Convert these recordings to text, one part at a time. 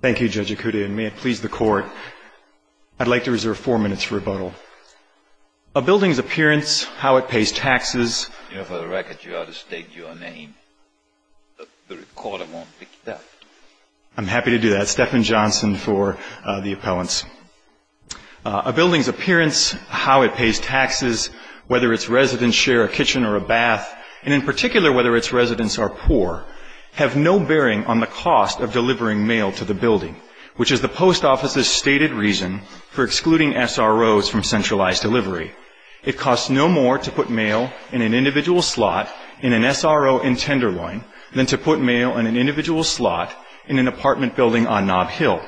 Thank you, Judge Ikuda, and may it please the Court, I'd like to reserve four minutes for rebuttal. A building's appearance, how it pays taxes... You know, for the record, you ought to state your name. The recorder won't pick that. I'm happy to do that. Stephan Johnson for the appellants. A building's appearance, how it pays taxes, whether its residents share a kitchen or a bath, and in particular whether its residents are poor, have no bearing on the cost of delivering mail to the building, which is the Post Office's stated reason for excluding SROs from centralized delivery. It costs no more to put mail in an individual slot in an SRO in Tenderloin than to put mail in an individual slot in an apartment building on Knob Hill.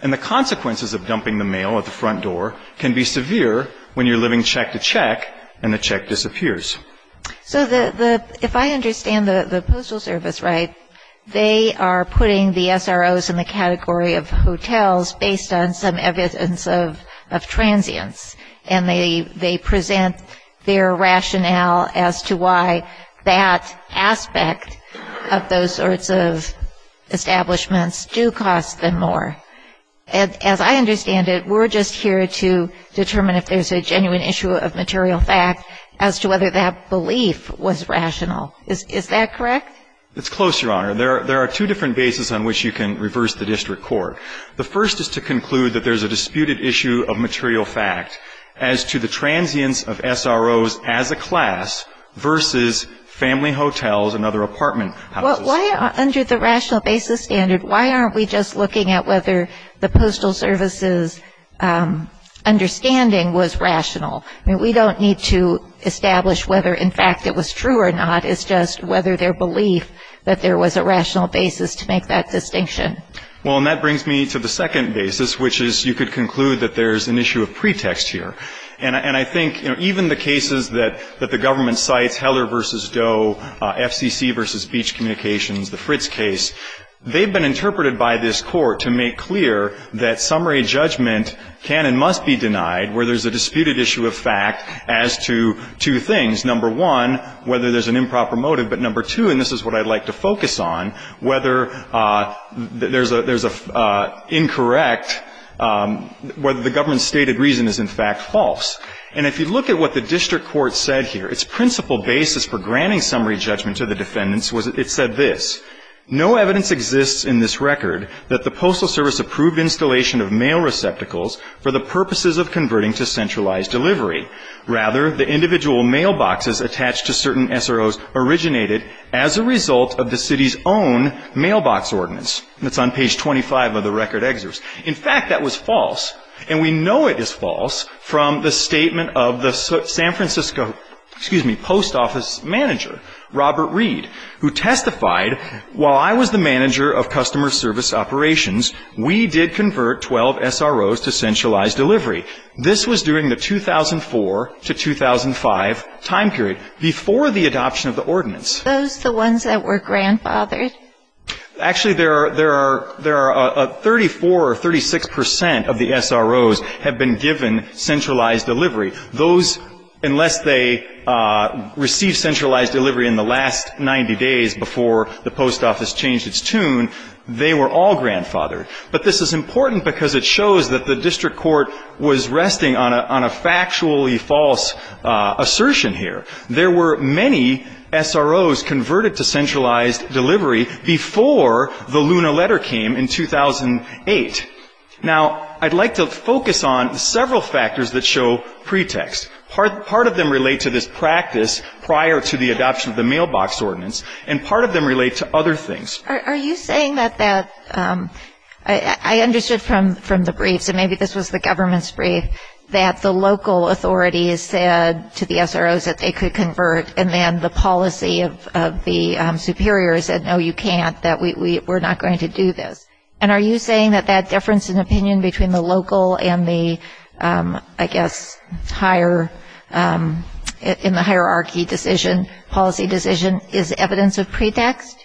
And the consequences of dumping the mail at the front door can be severe when you're living check to check and the check disappears. So if I understand the Postal Service right, they are putting the SROs in the category of hotels based on some evidence of transience, and they present their rationale as to why that aspect of those sorts of establishments do cost them more. As I understand it, we're just here to determine if there's a genuine issue of material fact as to whether that belief was rational. Is that correct? It's close, Your Honor. There are two different bases on which you can reverse the district court. The first is to conclude that there's a disputed issue of material fact as to the transience of SROs as a class versus family hotels and other apartment houses. Well, why under the rational basis standard, why aren't we just looking at whether the Postal Service's understanding was rational? I mean, we don't need to establish whether, in fact, it was true or not. It's just whether their belief that there was a rational basis to make that distinction. Well, and that brings me to the second basis, which is you could conclude that there's an issue of pretext here. And I think even the cases that the government cites, Heller v. Doe, FCC v. Beach Communications, the Fritz case, they've been interpreted by this court to make clear that summary judgment can and must be denied where there's a disputed issue of fact as to two things. Number one, whether there's an improper motive. But number two, and this is what I'd like to focus on, whether there's an incorrect, whether the government's stated reason is, in fact, false. And if you look at what the district court said here, its principal basis for granting summary judgment to the defendants was it said this, No evidence exists in this record that the Postal Service approved installation of mail receptacles for the purposes of converting to centralized delivery. Rather, the individual mailboxes attached to certain SROs originated as a result of the city's own mailbox ordinance. That's on page 25 of the record excerpts. In fact, that was false. And we know it is false from the statement of the San Francisco, excuse me, post office manager, Robert Reed, who testified, While I was the manager of customer service operations, we did convert 12 SROs to centralized delivery. This was during the 2004 to 2005 time period, before the adoption of the ordinance. Are those the ones that were grandfathered? Actually, there are 34 or 36 percent of the SROs have been given centralized delivery. Those, unless they received centralized delivery in the last 90 days before the post office changed its tune, they were all grandfathered. But this is important because it shows that the district court was resting on a factually false assertion here. There were many SROs converted to centralized delivery before the Luna letter came in 2008. Now, I'd like to focus on several factors that show pretext. Part of them relate to this practice prior to the adoption of the mailbox ordinance, and part of them relate to other things. Are you saying that that ‑‑ I understood from the briefs, and maybe this was the government's brief, that the local authorities said to the SROs that they could convert, and then the policy of the superiors said, no, you can't, that we're not going to do this. And are you saying that that difference in opinion between the local and the, I guess, higher ‑‑ in the hierarchy decision, policy decision, is evidence of pretext?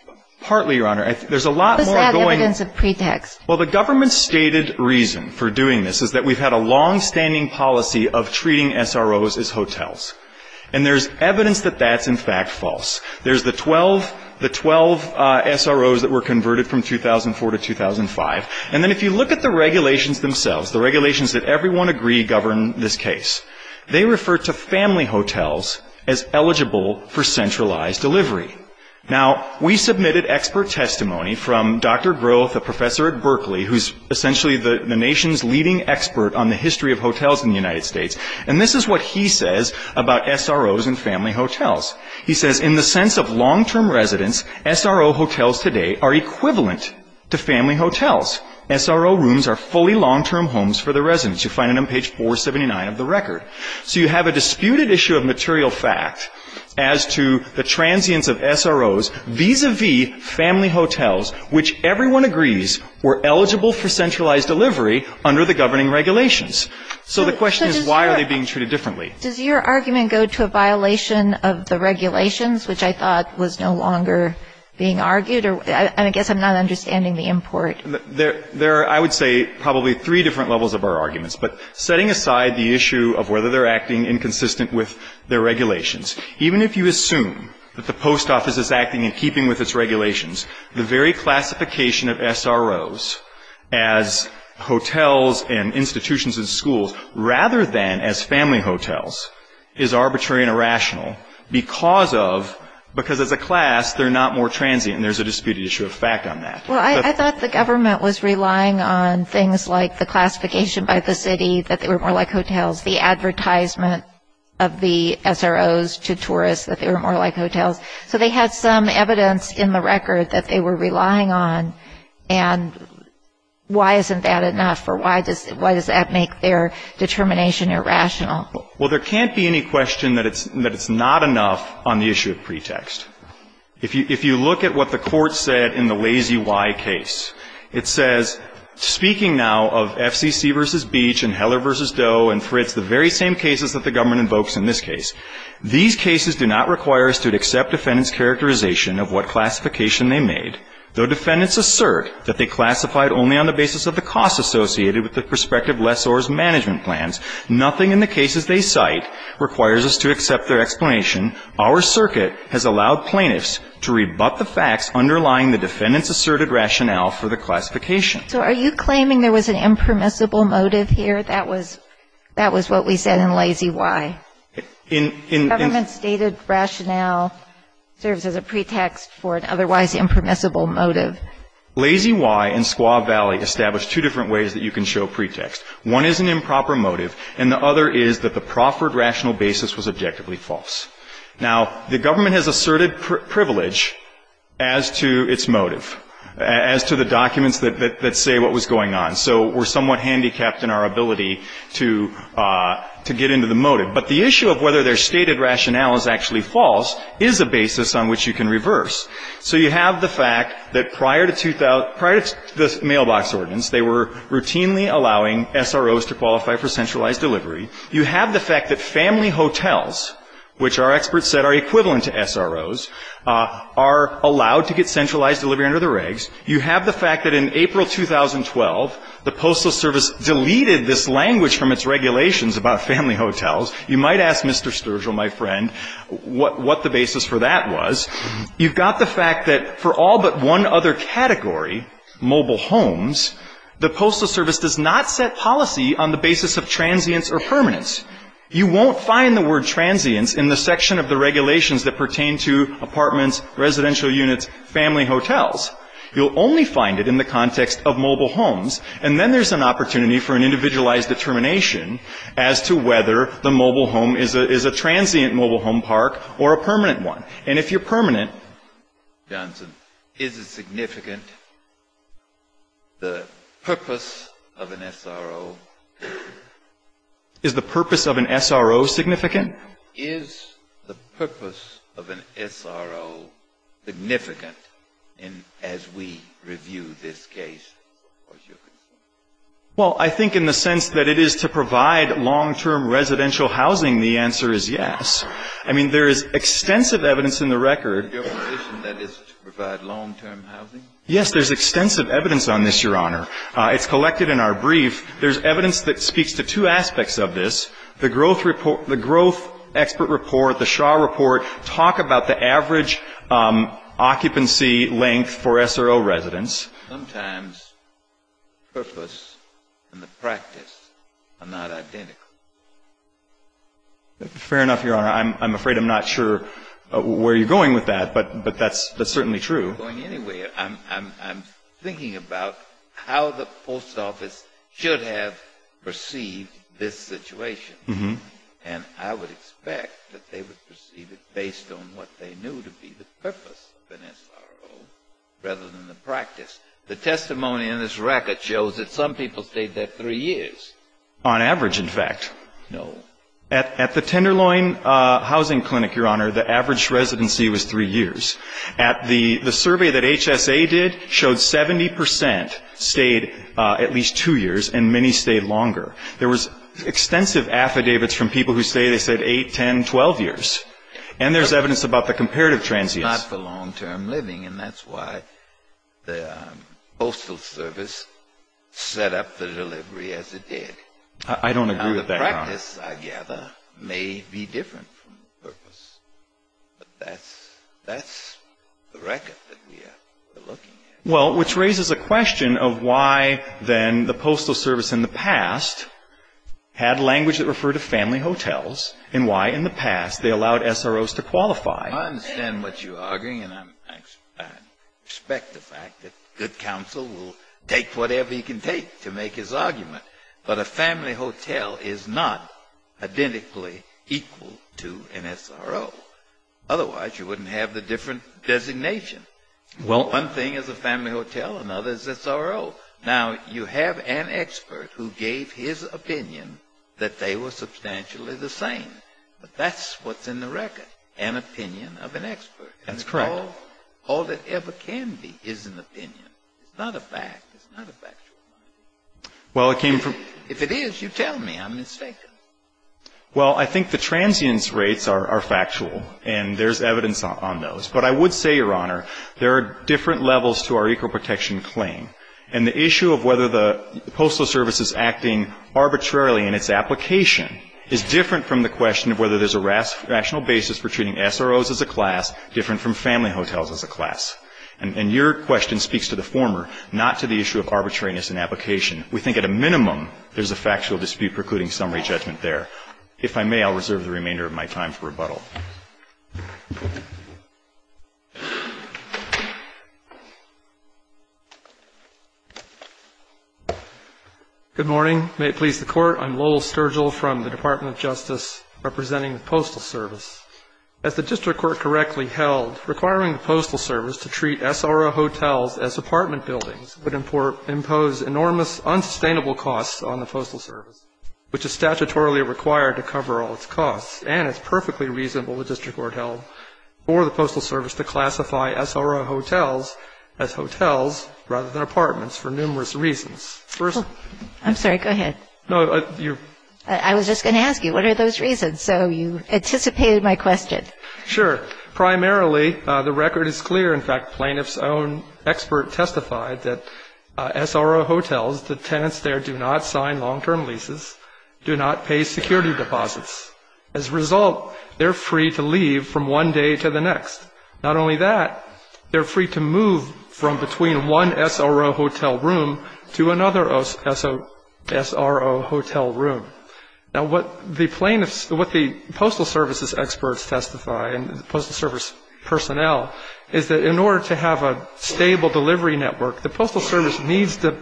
Partly, Your Honor. There's a lot more going ‑‑ What is that evidence of pretext? Well, the government's stated reason for doing this is that we've had a longstanding policy of treating SROs as hotels. And there's evidence that that's, in fact, false. There's the 12 SROs that were converted from 2004 to 2005. And then if you look at the regulations themselves, the regulations that everyone agree govern this case, they refer to family hotels as eligible for centralized delivery. Now, we submitted expert testimony from Dr. Growth, a professor at Berkeley, who's essentially the nation's leading expert on the history of hotels in the United States. And this is what he says about SROs and family hotels. He says, in the sense of long‑term residence, SRO hotels today are equivalent to family hotels. SRO rooms are fully long‑term homes for the residents. You find it on page 479 of the record. So you have a disputed issue of material fact as to the transience of SROs vis‑a‑vis family hotels, which everyone agrees were eligible for centralized delivery under the governing regulations. So the question is, why are they being treated differently? Does your argument go to a violation of the regulations, which I thought was no longer being argued? I guess I'm not understanding the import. There are, I would say, probably three different levels of our arguments. But setting aside the issue of whether they're acting inconsistent with their regulations, even if you assume that the post office is acting in keeping with its regulations, the very classification of SROs as hotels and institutions and schools, rather than as family hotels, is arbitrary and irrational because of, because as a class, they're not more transient. And there's a disputed issue of fact on that. Well, I thought the government was relying on things like the classification by the city, that they were more like hotels, the advertisement of the SROs to tourists, that they were more like hotels. So they had some evidence in the record that they were relying on. And why isn't that enough? Or why does that make their determination irrational? Well, there can't be any question that it's not enough on the issue of pretext. If you look at what the court said in the Lazy Y case, it says, speaking now of FCC versus Beach and Heller versus Doe and Fritz, the very same cases that the government invokes in this case, these cases do not require us to accept defendant's characterization of what classification they made. Though defendants assert that they classified only on the basis of the costs associated with the prospective lessor's management plans, nothing in the cases they cite requires us to accept their explanation. Our circuit has allowed plaintiffs to rebut the facts underlying the defendant's asserted rationale for the classification. So are you claiming there was an impermissible motive here? That was what we said in Lazy Y. Government stated rationale serves as a pretext for an otherwise impermissible motive. Lazy Y and Squaw Valley established two different ways that you can show pretext. One is an improper motive, and the other is that the proffered rational basis was objectively false. Now, the government has asserted privilege as to its motive, as to the documents that say what was going on. So we're somewhat handicapped in our ability to get into the motive. But the issue of whether their stated rationale is actually false is a basis on which you can reverse. So you have the fact that prior to the mailbox ordinance, they were routinely allowing SROs to qualify for centralized delivery. You have the fact that family hotels, which our experts said are equivalent to SROs, are allowed to get centralized delivery under the regs. You have the fact that in April 2012, the Postal Service deleted this language from its regulations about family hotels. You might ask Mr. Sturgill, my friend, what the basis for that was. You've got the fact that for all but one other category, mobile homes, the Postal Service does not set policy on the basis of transience or permanence. You won't find the word transience in the section of the regulations that pertain to apartments, residential units, family hotels. You'll only find it in the context of mobile homes. And then there's an opportunity for an individualized determination as to whether the mobile home is a transient mobile home park or a permanent one. And if you're permanent, Johnson, is it significant, the purpose of an SRO? Is the purpose of an SRO significant? Well, I think in the sense that it is to provide long-term residential housing, the answer is yes. I mean, there is extensive evidence in the record. Your position that it's to provide long-term housing? Yes. There's extensive evidence on this, Your Honor. It's collected in our brief. There's evidence that speaks to two aspects of this. The Shaw report. Talk about the average occupancy length for SRO residents. Sometimes purpose and the practice are not identical. Fair enough, Your Honor. I'm afraid I'm not sure where you're going with that, but that's certainly true. I'm not going anywhere. I'm thinking about how the post office should have perceived this situation. And I would expect that they would perceive it based on what they knew to be the purpose of an SRO rather than the practice. The testimony in this record shows that some people stayed there three years. On average, in fact. No. At the Tenderloin Housing Clinic, Your Honor, the average residency was three years. The survey that HSA did showed 70 percent stayed at least two years and many stayed longer. There was extensive affidavits from people who say they stayed 8, 10, 12 years. And there's evidence about the comparative transients. Not for long-term living, and that's why the Postal Service set up the delivery as it did. I don't agree with that, Your Honor. Now, the practice, I gather, may be different from the purpose. But that's the record that we're looking at. Well, which raises a question of why, then, the Postal Service in the past had language that referred to family hotels and why in the past they allowed SROs to qualify. I understand what you're arguing, and I respect the fact that good counsel will take whatever he can take to make his argument. But a family hotel is not identically equal to an SRO. Otherwise, you wouldn't have the different designation. One thing is a family hotel, another is a SRO. Now, you have an expert who gave his opinion that they were substantially the same. But that's what's in the record, an opinion of an expert. That's correct. All that ever can be is an opinion. It's not a fact. It's not a factual argument. Well, it came from — If it is, you tell me. I'm mistaken. Well, I think the transients rates are factual, and there's evidence on those. But I would say, Your Honor, there are different levels to our equal protection claim. And the issue of whether the Postal Service is acting arbitrarily in its application is different from the question of whether there's a rational basis for treating SROs as a class, different from family hotels as a class. And your question speaks to the former, not to the issue of arbitrariness in application. We think at a minimum there's a factual dispute precluding summary judgment there. If I may, I'll reserve the remainder of my time for rebuttal. Thank you. Good morning. May it please the Court, I'm Lowell Sturgill from the Department of Justice representing the Postal Service. As the district court correctly held, requiring the Postal Service to treat SRO hotels as apartment buildings would impose enormous unsustainable costs on the Postal Service, which is statutorily required to cover all its costs, and it's perfectly reasonable, the district court held, for the Postal Service to classify SRO hotels as hotels rather than apartments for numerous reasons. I'm sorry. Go ahead. I was just going to ask you, what are those reasons? So you anticipated my question. Sure. Primarily, the record is clear. In fact, plaintiff's own expert testified that SRO hotels, the tenants there do not sign long-term leases, do not pay security deposits. As a result, they're free to leave from one day to the next. Not only that, they're free to move from between one SRO hotel room to another SRO hotel room. Now, what the plaintiffs, what the Postal Service's experts testify, and the Postal Service personnel, is that in order to have a stable delivery network, the Postal Service needs to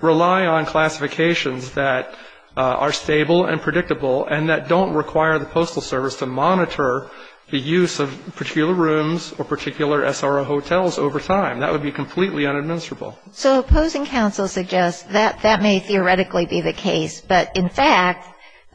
rely on classifications that are stable and predictable and that don't require the Postal Service to monitor the use of particular rooms or particular SRO hotels over time. That would be completely unadministerable. So opposing counsel suggests that that may theoretically be the case, but in fact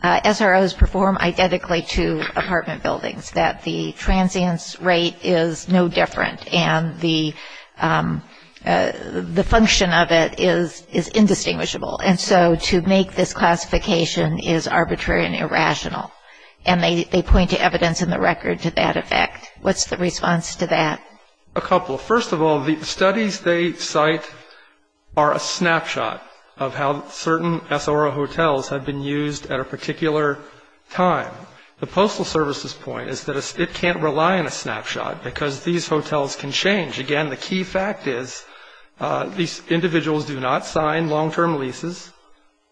SROs perform identically to apartment buildings, that the transience rate is no different and the function of it is indistinguishable. And so to make this classification is arbitrary and irrational. And they point to evidence in the record to that effect. What's the response to that? A couple. First of all, the studies they cite are a snapshot of how certain SRO hotels have been used at a particular time. The Postal Service's point is that it can't rely on a snapshot because these hotels can change. Again, the key fact is these individuals do not sign long-term leases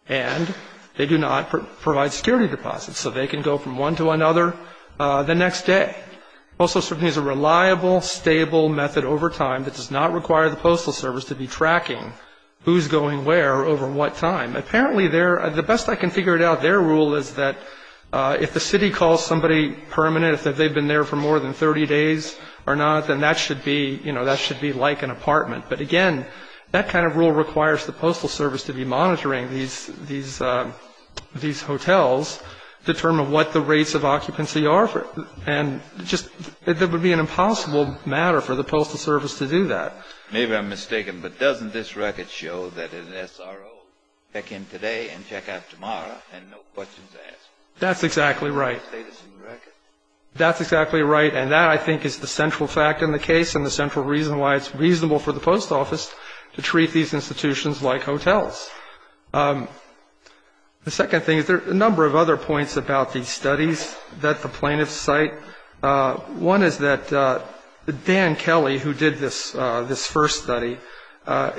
and they do not provide security deposits so they can go from one to another the next day. Postal Service needs a reliable, stable method over time that does not require the Postal Service to be tracking who's going where over what time. The best I can figure out their rule is that if the city calls somebody permanent, if they've been there for more than 30 days or not, then that should be like an apartment. But again, that kind of rule requires the Postal Service to be monitoring these hotels to determine what the rates of occupancy are. And it would be an impossible matter for the Postal Service to do that. Maybe I'm mistaken, but doesn't this record show that an SRO can come today and check out tomorrow and no questions asked? That's exactly right. That's exactly right. And that, I think, is the central fact in the case and the central reason why it's reasonable for the post office to treat these institutions like hotels. The second thing is there are a number of other points about these studies that the plaintiffs cite. One is that Dan Kelly, who did this first study,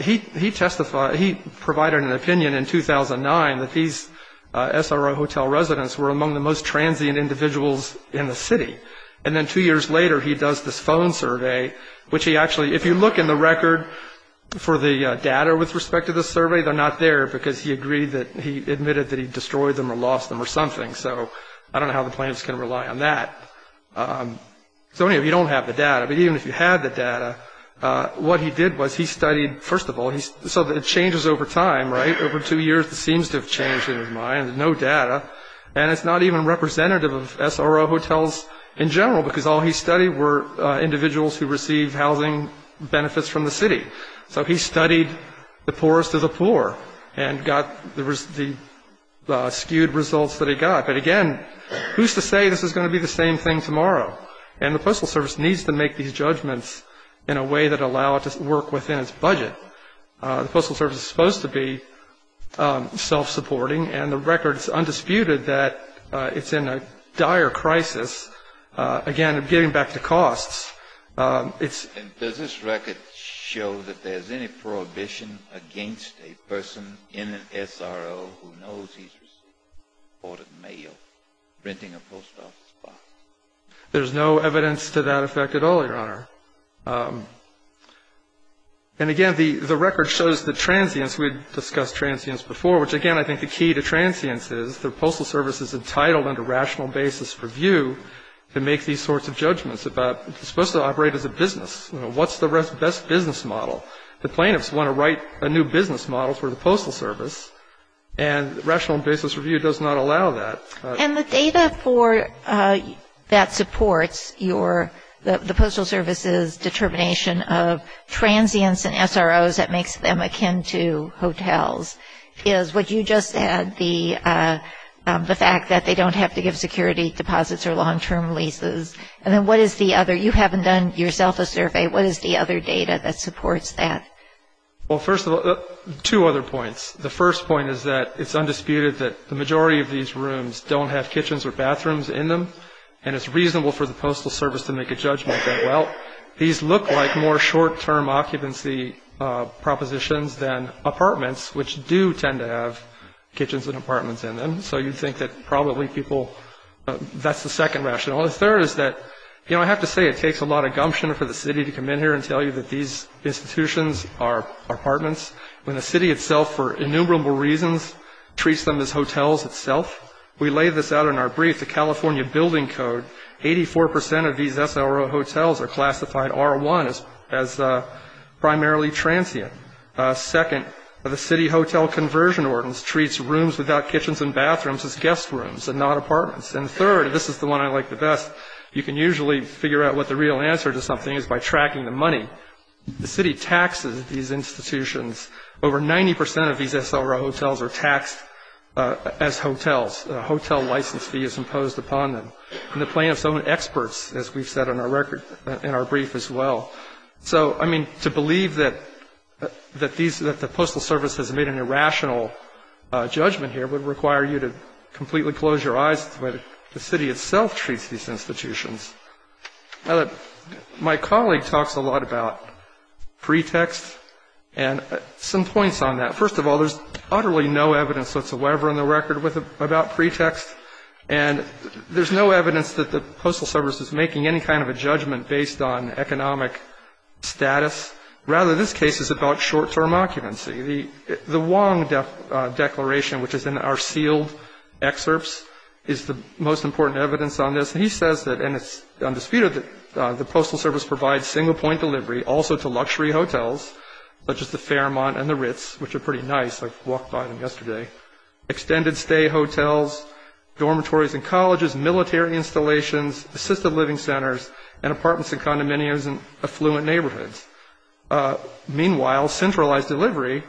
he testified, he provided an opinion in 2009 that these SRO hotel residents were among the most transient individuals in the city. And then two years later, he does this phone survey, which he actually, if you look in the record for the data with respect to this survey, they're not there because he admitted that he destroyed them or lost them or something. So I don't know how the plaintiffs can rely on that. So anyway, you don't have the data. But even if you had the data, what he did was he studied, first of all, so it changes over time, right? Over two years, it seems to have changed in his mind. There's no data. And it's not even representative of SRO hotels in general because all he studied were individuals who received housing benefits from the city. So he studied the poorest of the poor and got the skewed results that he got. But again, who's to say this is going to be the same thing tomorrow? And the Postal Service needs to make these judgments in a way that allow it to work within its budget. The Postal Service is supposed to be self-supporting, and the record is undisputed that it's in a dire crisis, again, getting back to costs. And does this record show that there's any prohibition against a person in an SRO who knows he's receiving imported mail, renting a post office box? There's no evidence to that effect at all, Your Honor. And again, the record shows the transience. We discussed transience before, which, again, I think the key to transience is the Postal Service is entitled under rational basis review to make these sorts of judgments about it's supposed to operate as a business. What's the best business model? The plaintiffs want to write a new business model for the Postal Service, and rational basis review does not allow that. And the data that supports the Postal Service's determination of transience in SROs that makes them akin to hotels is what you just said, the fact that they don't have to give security deposits or long-term leases. And then what is the other? You haven't done yourself a survey. What is the other data that supports that? Well, first of all, two other points. The first point is that it's undisputed that the majority of these rooms don't have kitchens or bathrooms in them, these look like more short-term occupancy propositions than apartments, which do tend to have kitchens and apartments in them. So you'd think that probably people, that's the second rationale. The third is that, you know, I have to say, it takes a lot of gumption for the city to come in here and tell you that these institutions are apartments when the city itself, for innumerable reasons, treats them as hotels itself. We lay this out in our brief, the California Building Code, 84 percent of these SRO hotels are classified R1 as primarily transient. Second, the city hotel conversion ordinance treats rooms without kitchens and bathrooms as guest rooms and not apartments. And third, and this is the one I like the best, you can usually figure out what the real answer to something is by tracking the money. The city taxes these institutions. Over 90 percent of these SRO hotels are taxed as hotels. A hotel license fee is imposed upon them. And the plaintiff's own experts, as we've said in our record, in our brief as well. So, I mean, to believe that these, that the Postal Service has made an irrational judgment here would require you to completely close your eyes to the way the city itself treats these institutions. My colleague talks a lot about pretext and some points on that. First of all, there's utterly no evidence whatsoever in the record about pretext. And there's no evidence that the Postal Service is making any kind of a judgment based on economic status. Rather, this case is about short-term occupancy. The Wong Declaration, which is in our sealed excerpts, is the most important evidence on this. And he says that, and it's undisputed, that the Postal Service provides single-point delivery also to luxury hotels, such as the Fairmont and the Ritz, which are pretty nice. I walked by them yesterday. Extended stay hotels, dormitories and colleges, military installations, assisted living centers, and apartments and condominiums in affluent neighborhoods. Meanwhile, centralized delivery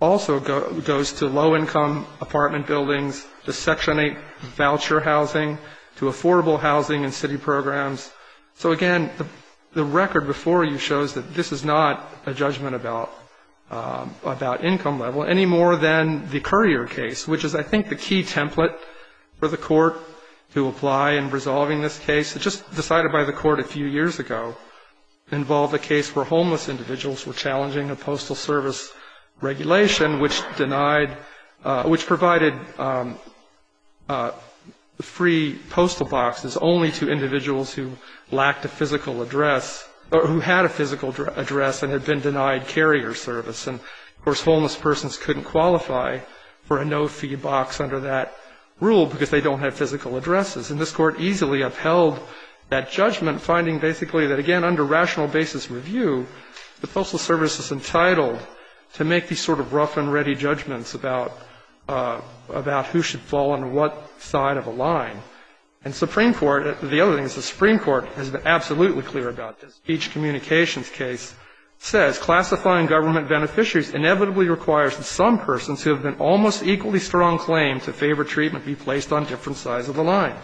also goes to low-income apartment buildings, to Section 8 voucher housing, to affordable housing and city programs. So, again, the record before you shows that this is not a judgment about income level, any more than the Currier case, which is, I think, the key template for the court to apply in resolving this case. It just, decided by the court a few years ago, involved a case where homeless individuals were challenging a Postal Service regulation, which denied, which provided free postal boxes only to individuals who lacked a physical address, or who had a physical address and had been denied carrier service. And, of course, homeless persons couldn't qualify for a no-fee box under that rule, because they don't have physical addresses. And this Court easily upheld that judgment, finding basically that, again, under rational basis review, the Postal Service is entitled to make these sort of rough-and-ready judgments about, about who should fall on what side of a line. And Supreme Court, the other thing is the Supreme Court has been absolutely clear about this. Each communications case says, Classifying government beneficiaries inevitably requires that some persons who have been almost equally strong claim to favor treatment be placed on different sides of the line.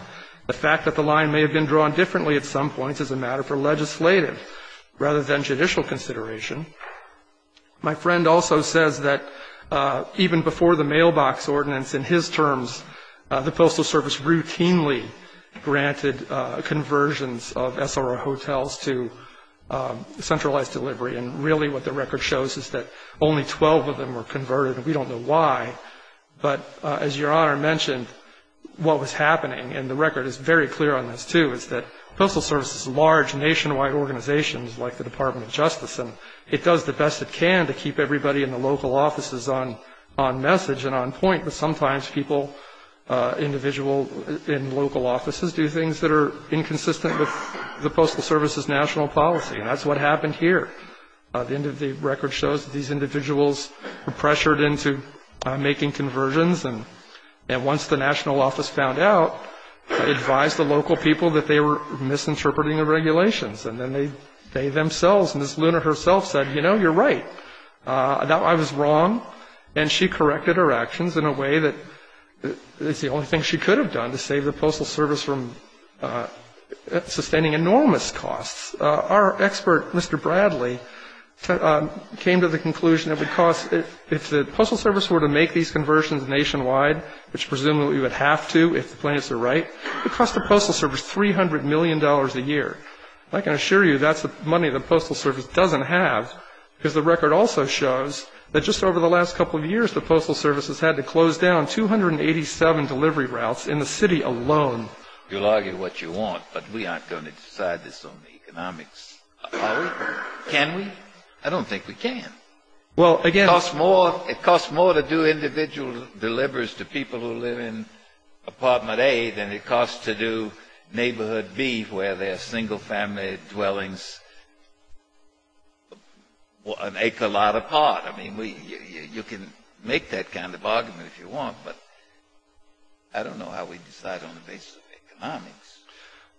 The fact that the line may have been drawn differently at some points is a matter for legislative, rather than judicial consideration. My friend also says that even before the mailbox ordinance, in his terms, the Postal Service routinely granted conversions of SRO hotels to centralized delivery. And really what the record shows is that only 12 of them were converted, and we don't know why. But as Your Honor mentioned, what was happening, and the record is very clear on this, too, is that the Postal Service is a large nationwide organization, like the Department of Justice, and it does the best it can to keep everybody in the local offices on message and on point, but sometimes people, individuals in local offices, do things that are inconsistent with the Postal Service's national policy. And that's what happened here. The end of the record shows that these individuals were pressured into making conversions, and once the national office found out, advised the local people that they were misinterpreting the regulations. And then they themselves, Ms. Luner herself said, you know, you're right. I was wrong. And she corrected her actions in a way that is the only thing she could have done to save the Postal Service from sustaining enormous costs. Our expert, Mr. Bradley, came to the conclusion that because if the Postal Service were to make these conversions nationwide, which presumably we would have to if the plaintiffs are right, it would cost the Postal Service $300 million a year. I can assure you that's the money the Postal Service doesn't have, because the record also shows that just over the last couple of years, the Postal Service has had to close down 287 delivery routes in the city alone. You'll argue what you want, but we aren't going to decide this on the economics. Are we? Can we? I don't think we can. It costs more to do individual delivers to people who live in apartment A than it costs to do neighborhood B where they're single-family dwellings an acre lot apart. I mean, you can make that kind of argument if you want, but I don't know how we decide on the basis of economics.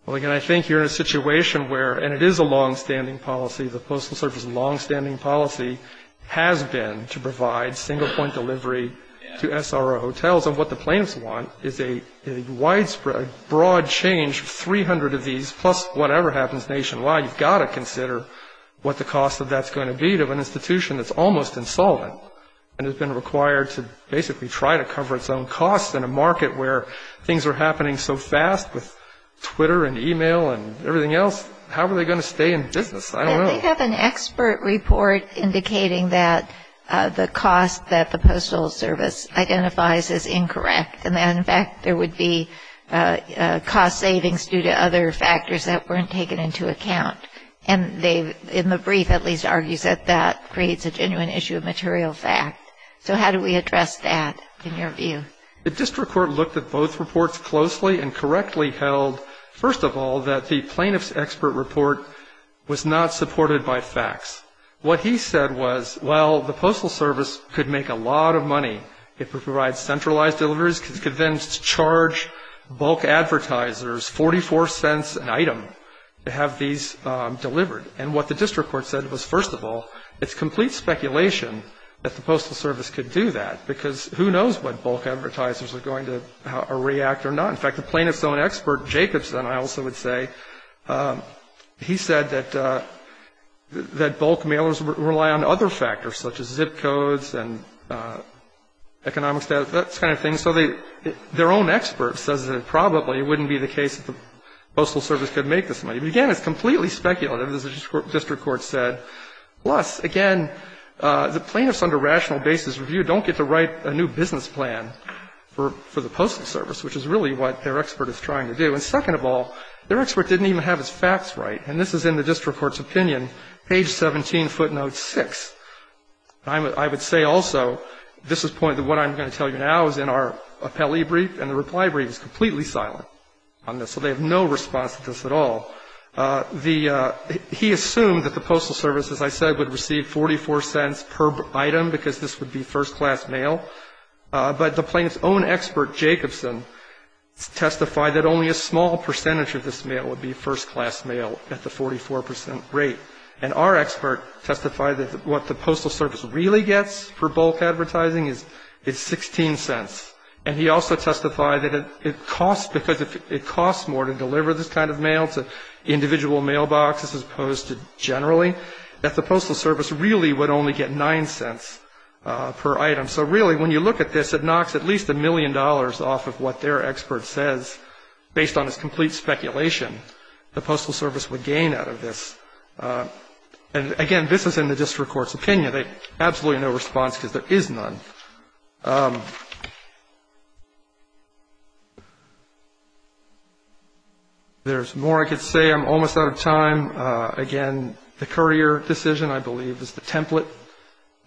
Well, again, I think you're in a situation where, and it is a longstanding policy, the Postal Service' longstanding policy has been to provide single-point delivery to SRO hotels. And what the plaintiffs want is a widespread, broad change, 300 of these, plus whatever happens nationwide. You've got to consider what the cost of that's going to be to an institution that's almost insolvent and has been required to basically try to cover its own costs in a market where things are happening so fast with Twitter and e-mail and everything else. How are they going to stay in business? I don't know. They have an expert report indicating that the cost that the Postal Service identifies as incorrect. And, in fact, there would be cost savings due to other factors that weren't taken into account. And they, in the brief at least, argues that that creates a genuine issue of material fact. So how do we address that, in your view? The district court looked at both reports closely and correctly held, first of all, that the plaintiff's expert report was not supported by facts. What he said was, well, the Postal Service could make a lot of money if it provides centralized deliveries. It could then charge bulk advertisers $0.44 an item to have these delivered. And what the district court said was, first of all, it's complete speculation that the Postal Service could do that, because who knows what bulk advertisers are going to react or not. In fact, the plaintiff's own expert, Jacobson, I also would say, he said that bulk mailers rely on other factors, such as zip codes and economic status, that kind of thing. So their own expert says that it probably wouldn't be the case that the Postal Service could make this money. But, again, it's completely speculative, as the district court said. Plus, again, the plaintiffs under rational basis review don't get to write a new business plan for the Postal Service, which is really what their expert is trying to do. And, second of all, their expert didn't even have his facts right. And this is in the district court's opinion, page 17, footnote 6. I would say also, at this point, that what I'm going to tell you now is in our appellee brief, and the reply brief is completely silent on this. So they have no response to this at all. He assumed that the Postal Service, as I said, would receive $0.44 per item, because this would be first-class mail. But the plaintiff's own expert, Jacobson, testified that only a small percentage of this mail would be first-class mail at the 44% rate. And our expert testified that what the Postal Service really gets for bulk advertising is $0.16. And he also testified that it costs, because it costs more to deliver this kind of mail to individual mailboxes as opposed to generally, that the Postal Service really would only get $0.09 per item. So really, when you look at this, it knocks at least a million dollars off of what their expert says, based on his complete speculation the Postal Service would gain out of this. And again, this is in the district court's opinion. They have absolutely no response, because there is none. There's more I could say. I'm almost out of time. Again, the courier decision, I believe, is the template.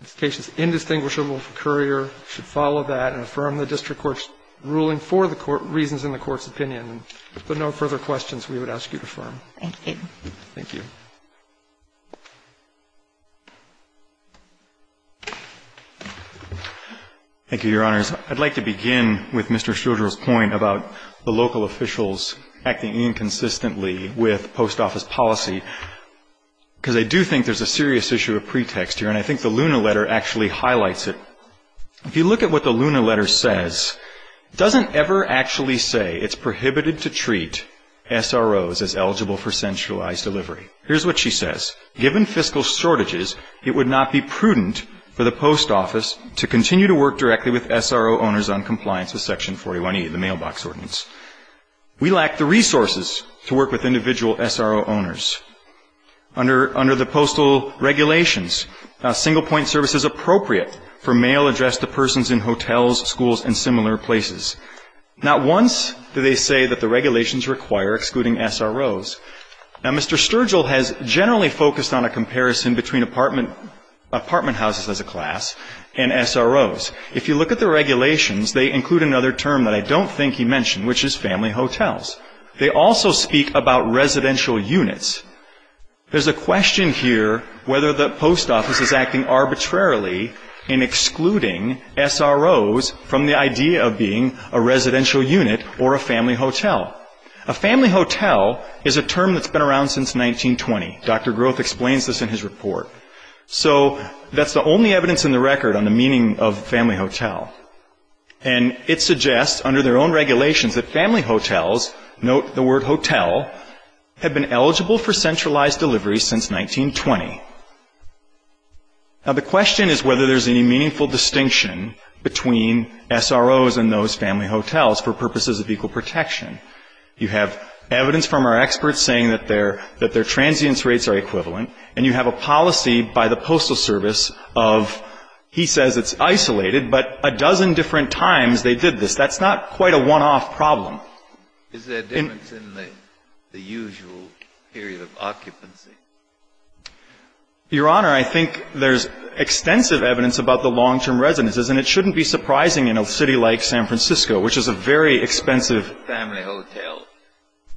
This case is indistinguishable from courier. You should follow that and affirm the district court's ruling for the reasons in the court's opinion. If there are no further questions, we would ask you to affirm. Thank you. Thank you. Thank you, Your Honors. I'd like to begin with Mr. Schilder's point about the local officials acting inconsistently with post office policy. Because I do think there's a serious issue of pretext here, and I think the Lunar Letter actually highlights it. If you look at what the Lunar Letter says, it doesn't ever actually say it's prohibited to treat SROs as eligible for centralized delivery. Here's what she says. Given fiscal shortages, it would not be prudent for the post office to continue to work directly with SRO owners on compliance with Section 41E, the mailbox ordinance. We lack the resources to work with individual SRO owners. Under the postal regulations, single-point service is appropriate for mail addressed to persons in hotels, schools, and similar places. Not once do they say that the regulations require excluding SROs. Now, Mr. Sturgill has generally focused on a comparison between apartment houses as a class and SROs. If you look at the regulations, they include another term that I don't think he mentioned, which is family hotels. They also speak about residential units. There's a question here whether the post office is acting arbitrarily in excluding SROs from the idea of being a residential unit or a family hotel. A family hotel is a term that's been around since 1920. Dr. Groth explains this in his report. So that's the only evidence in the record on the meaning of family hotel. And it suggests, under their own regulations, that family hotels, note the word hotel, have been eligible for centralized delivery since 1920. Now, the question is whether there's any meaningful distinction between SROs and those family hotels for purposes of equal protection. You have evidence from our experts saying that their transience rates are equivalent, and you have a policy by the Postal Service of, he says it's isolated, but a dozen different times they did this. That's not quite a one-off problem. Is there a difference in the usual period of occupancy? Your Honor, I think there's extensive evidence about the long-term residences, and it shouldn't be surprising in a city like San Francisco, which is a very expensive family hotel.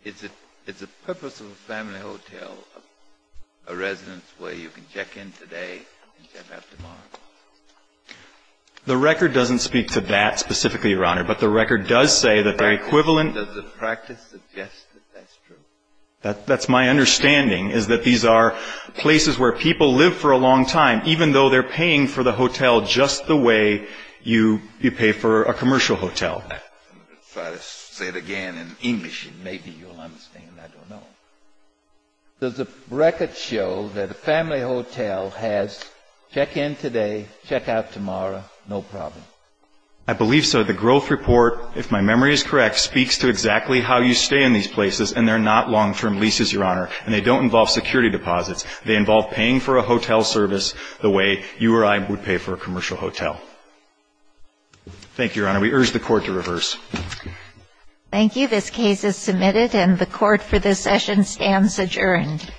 Is the purpose of a family hotel a residence where you can check in today and check out tomorrow? The record doesn't speak to that specifically, Your Honor. But the record does say that they're equivalent. Does the practice suggest that that's true? That's my understanding, is that these are places where people live for a long time, even though they're paying for the hotel just the way you pay for a commercial hotel. If I say it again in English, maybe you'll understand. I don't know. Does the record show that a family hotel has check-in today, check-out tomorrow, no problem? I believe so. The growth report, if my memory is correct, speaks to exactly how you stay in these places, and they're not long-term leases, Your Honor, and they don't involve security deposits. They involve paying for a hotel service the way you or I would pay for a commercial hotel. Thank you, Your Honor. And we urge the Court to reverse. Thank you. This case is submitted, and the Court for this session stands adjourned.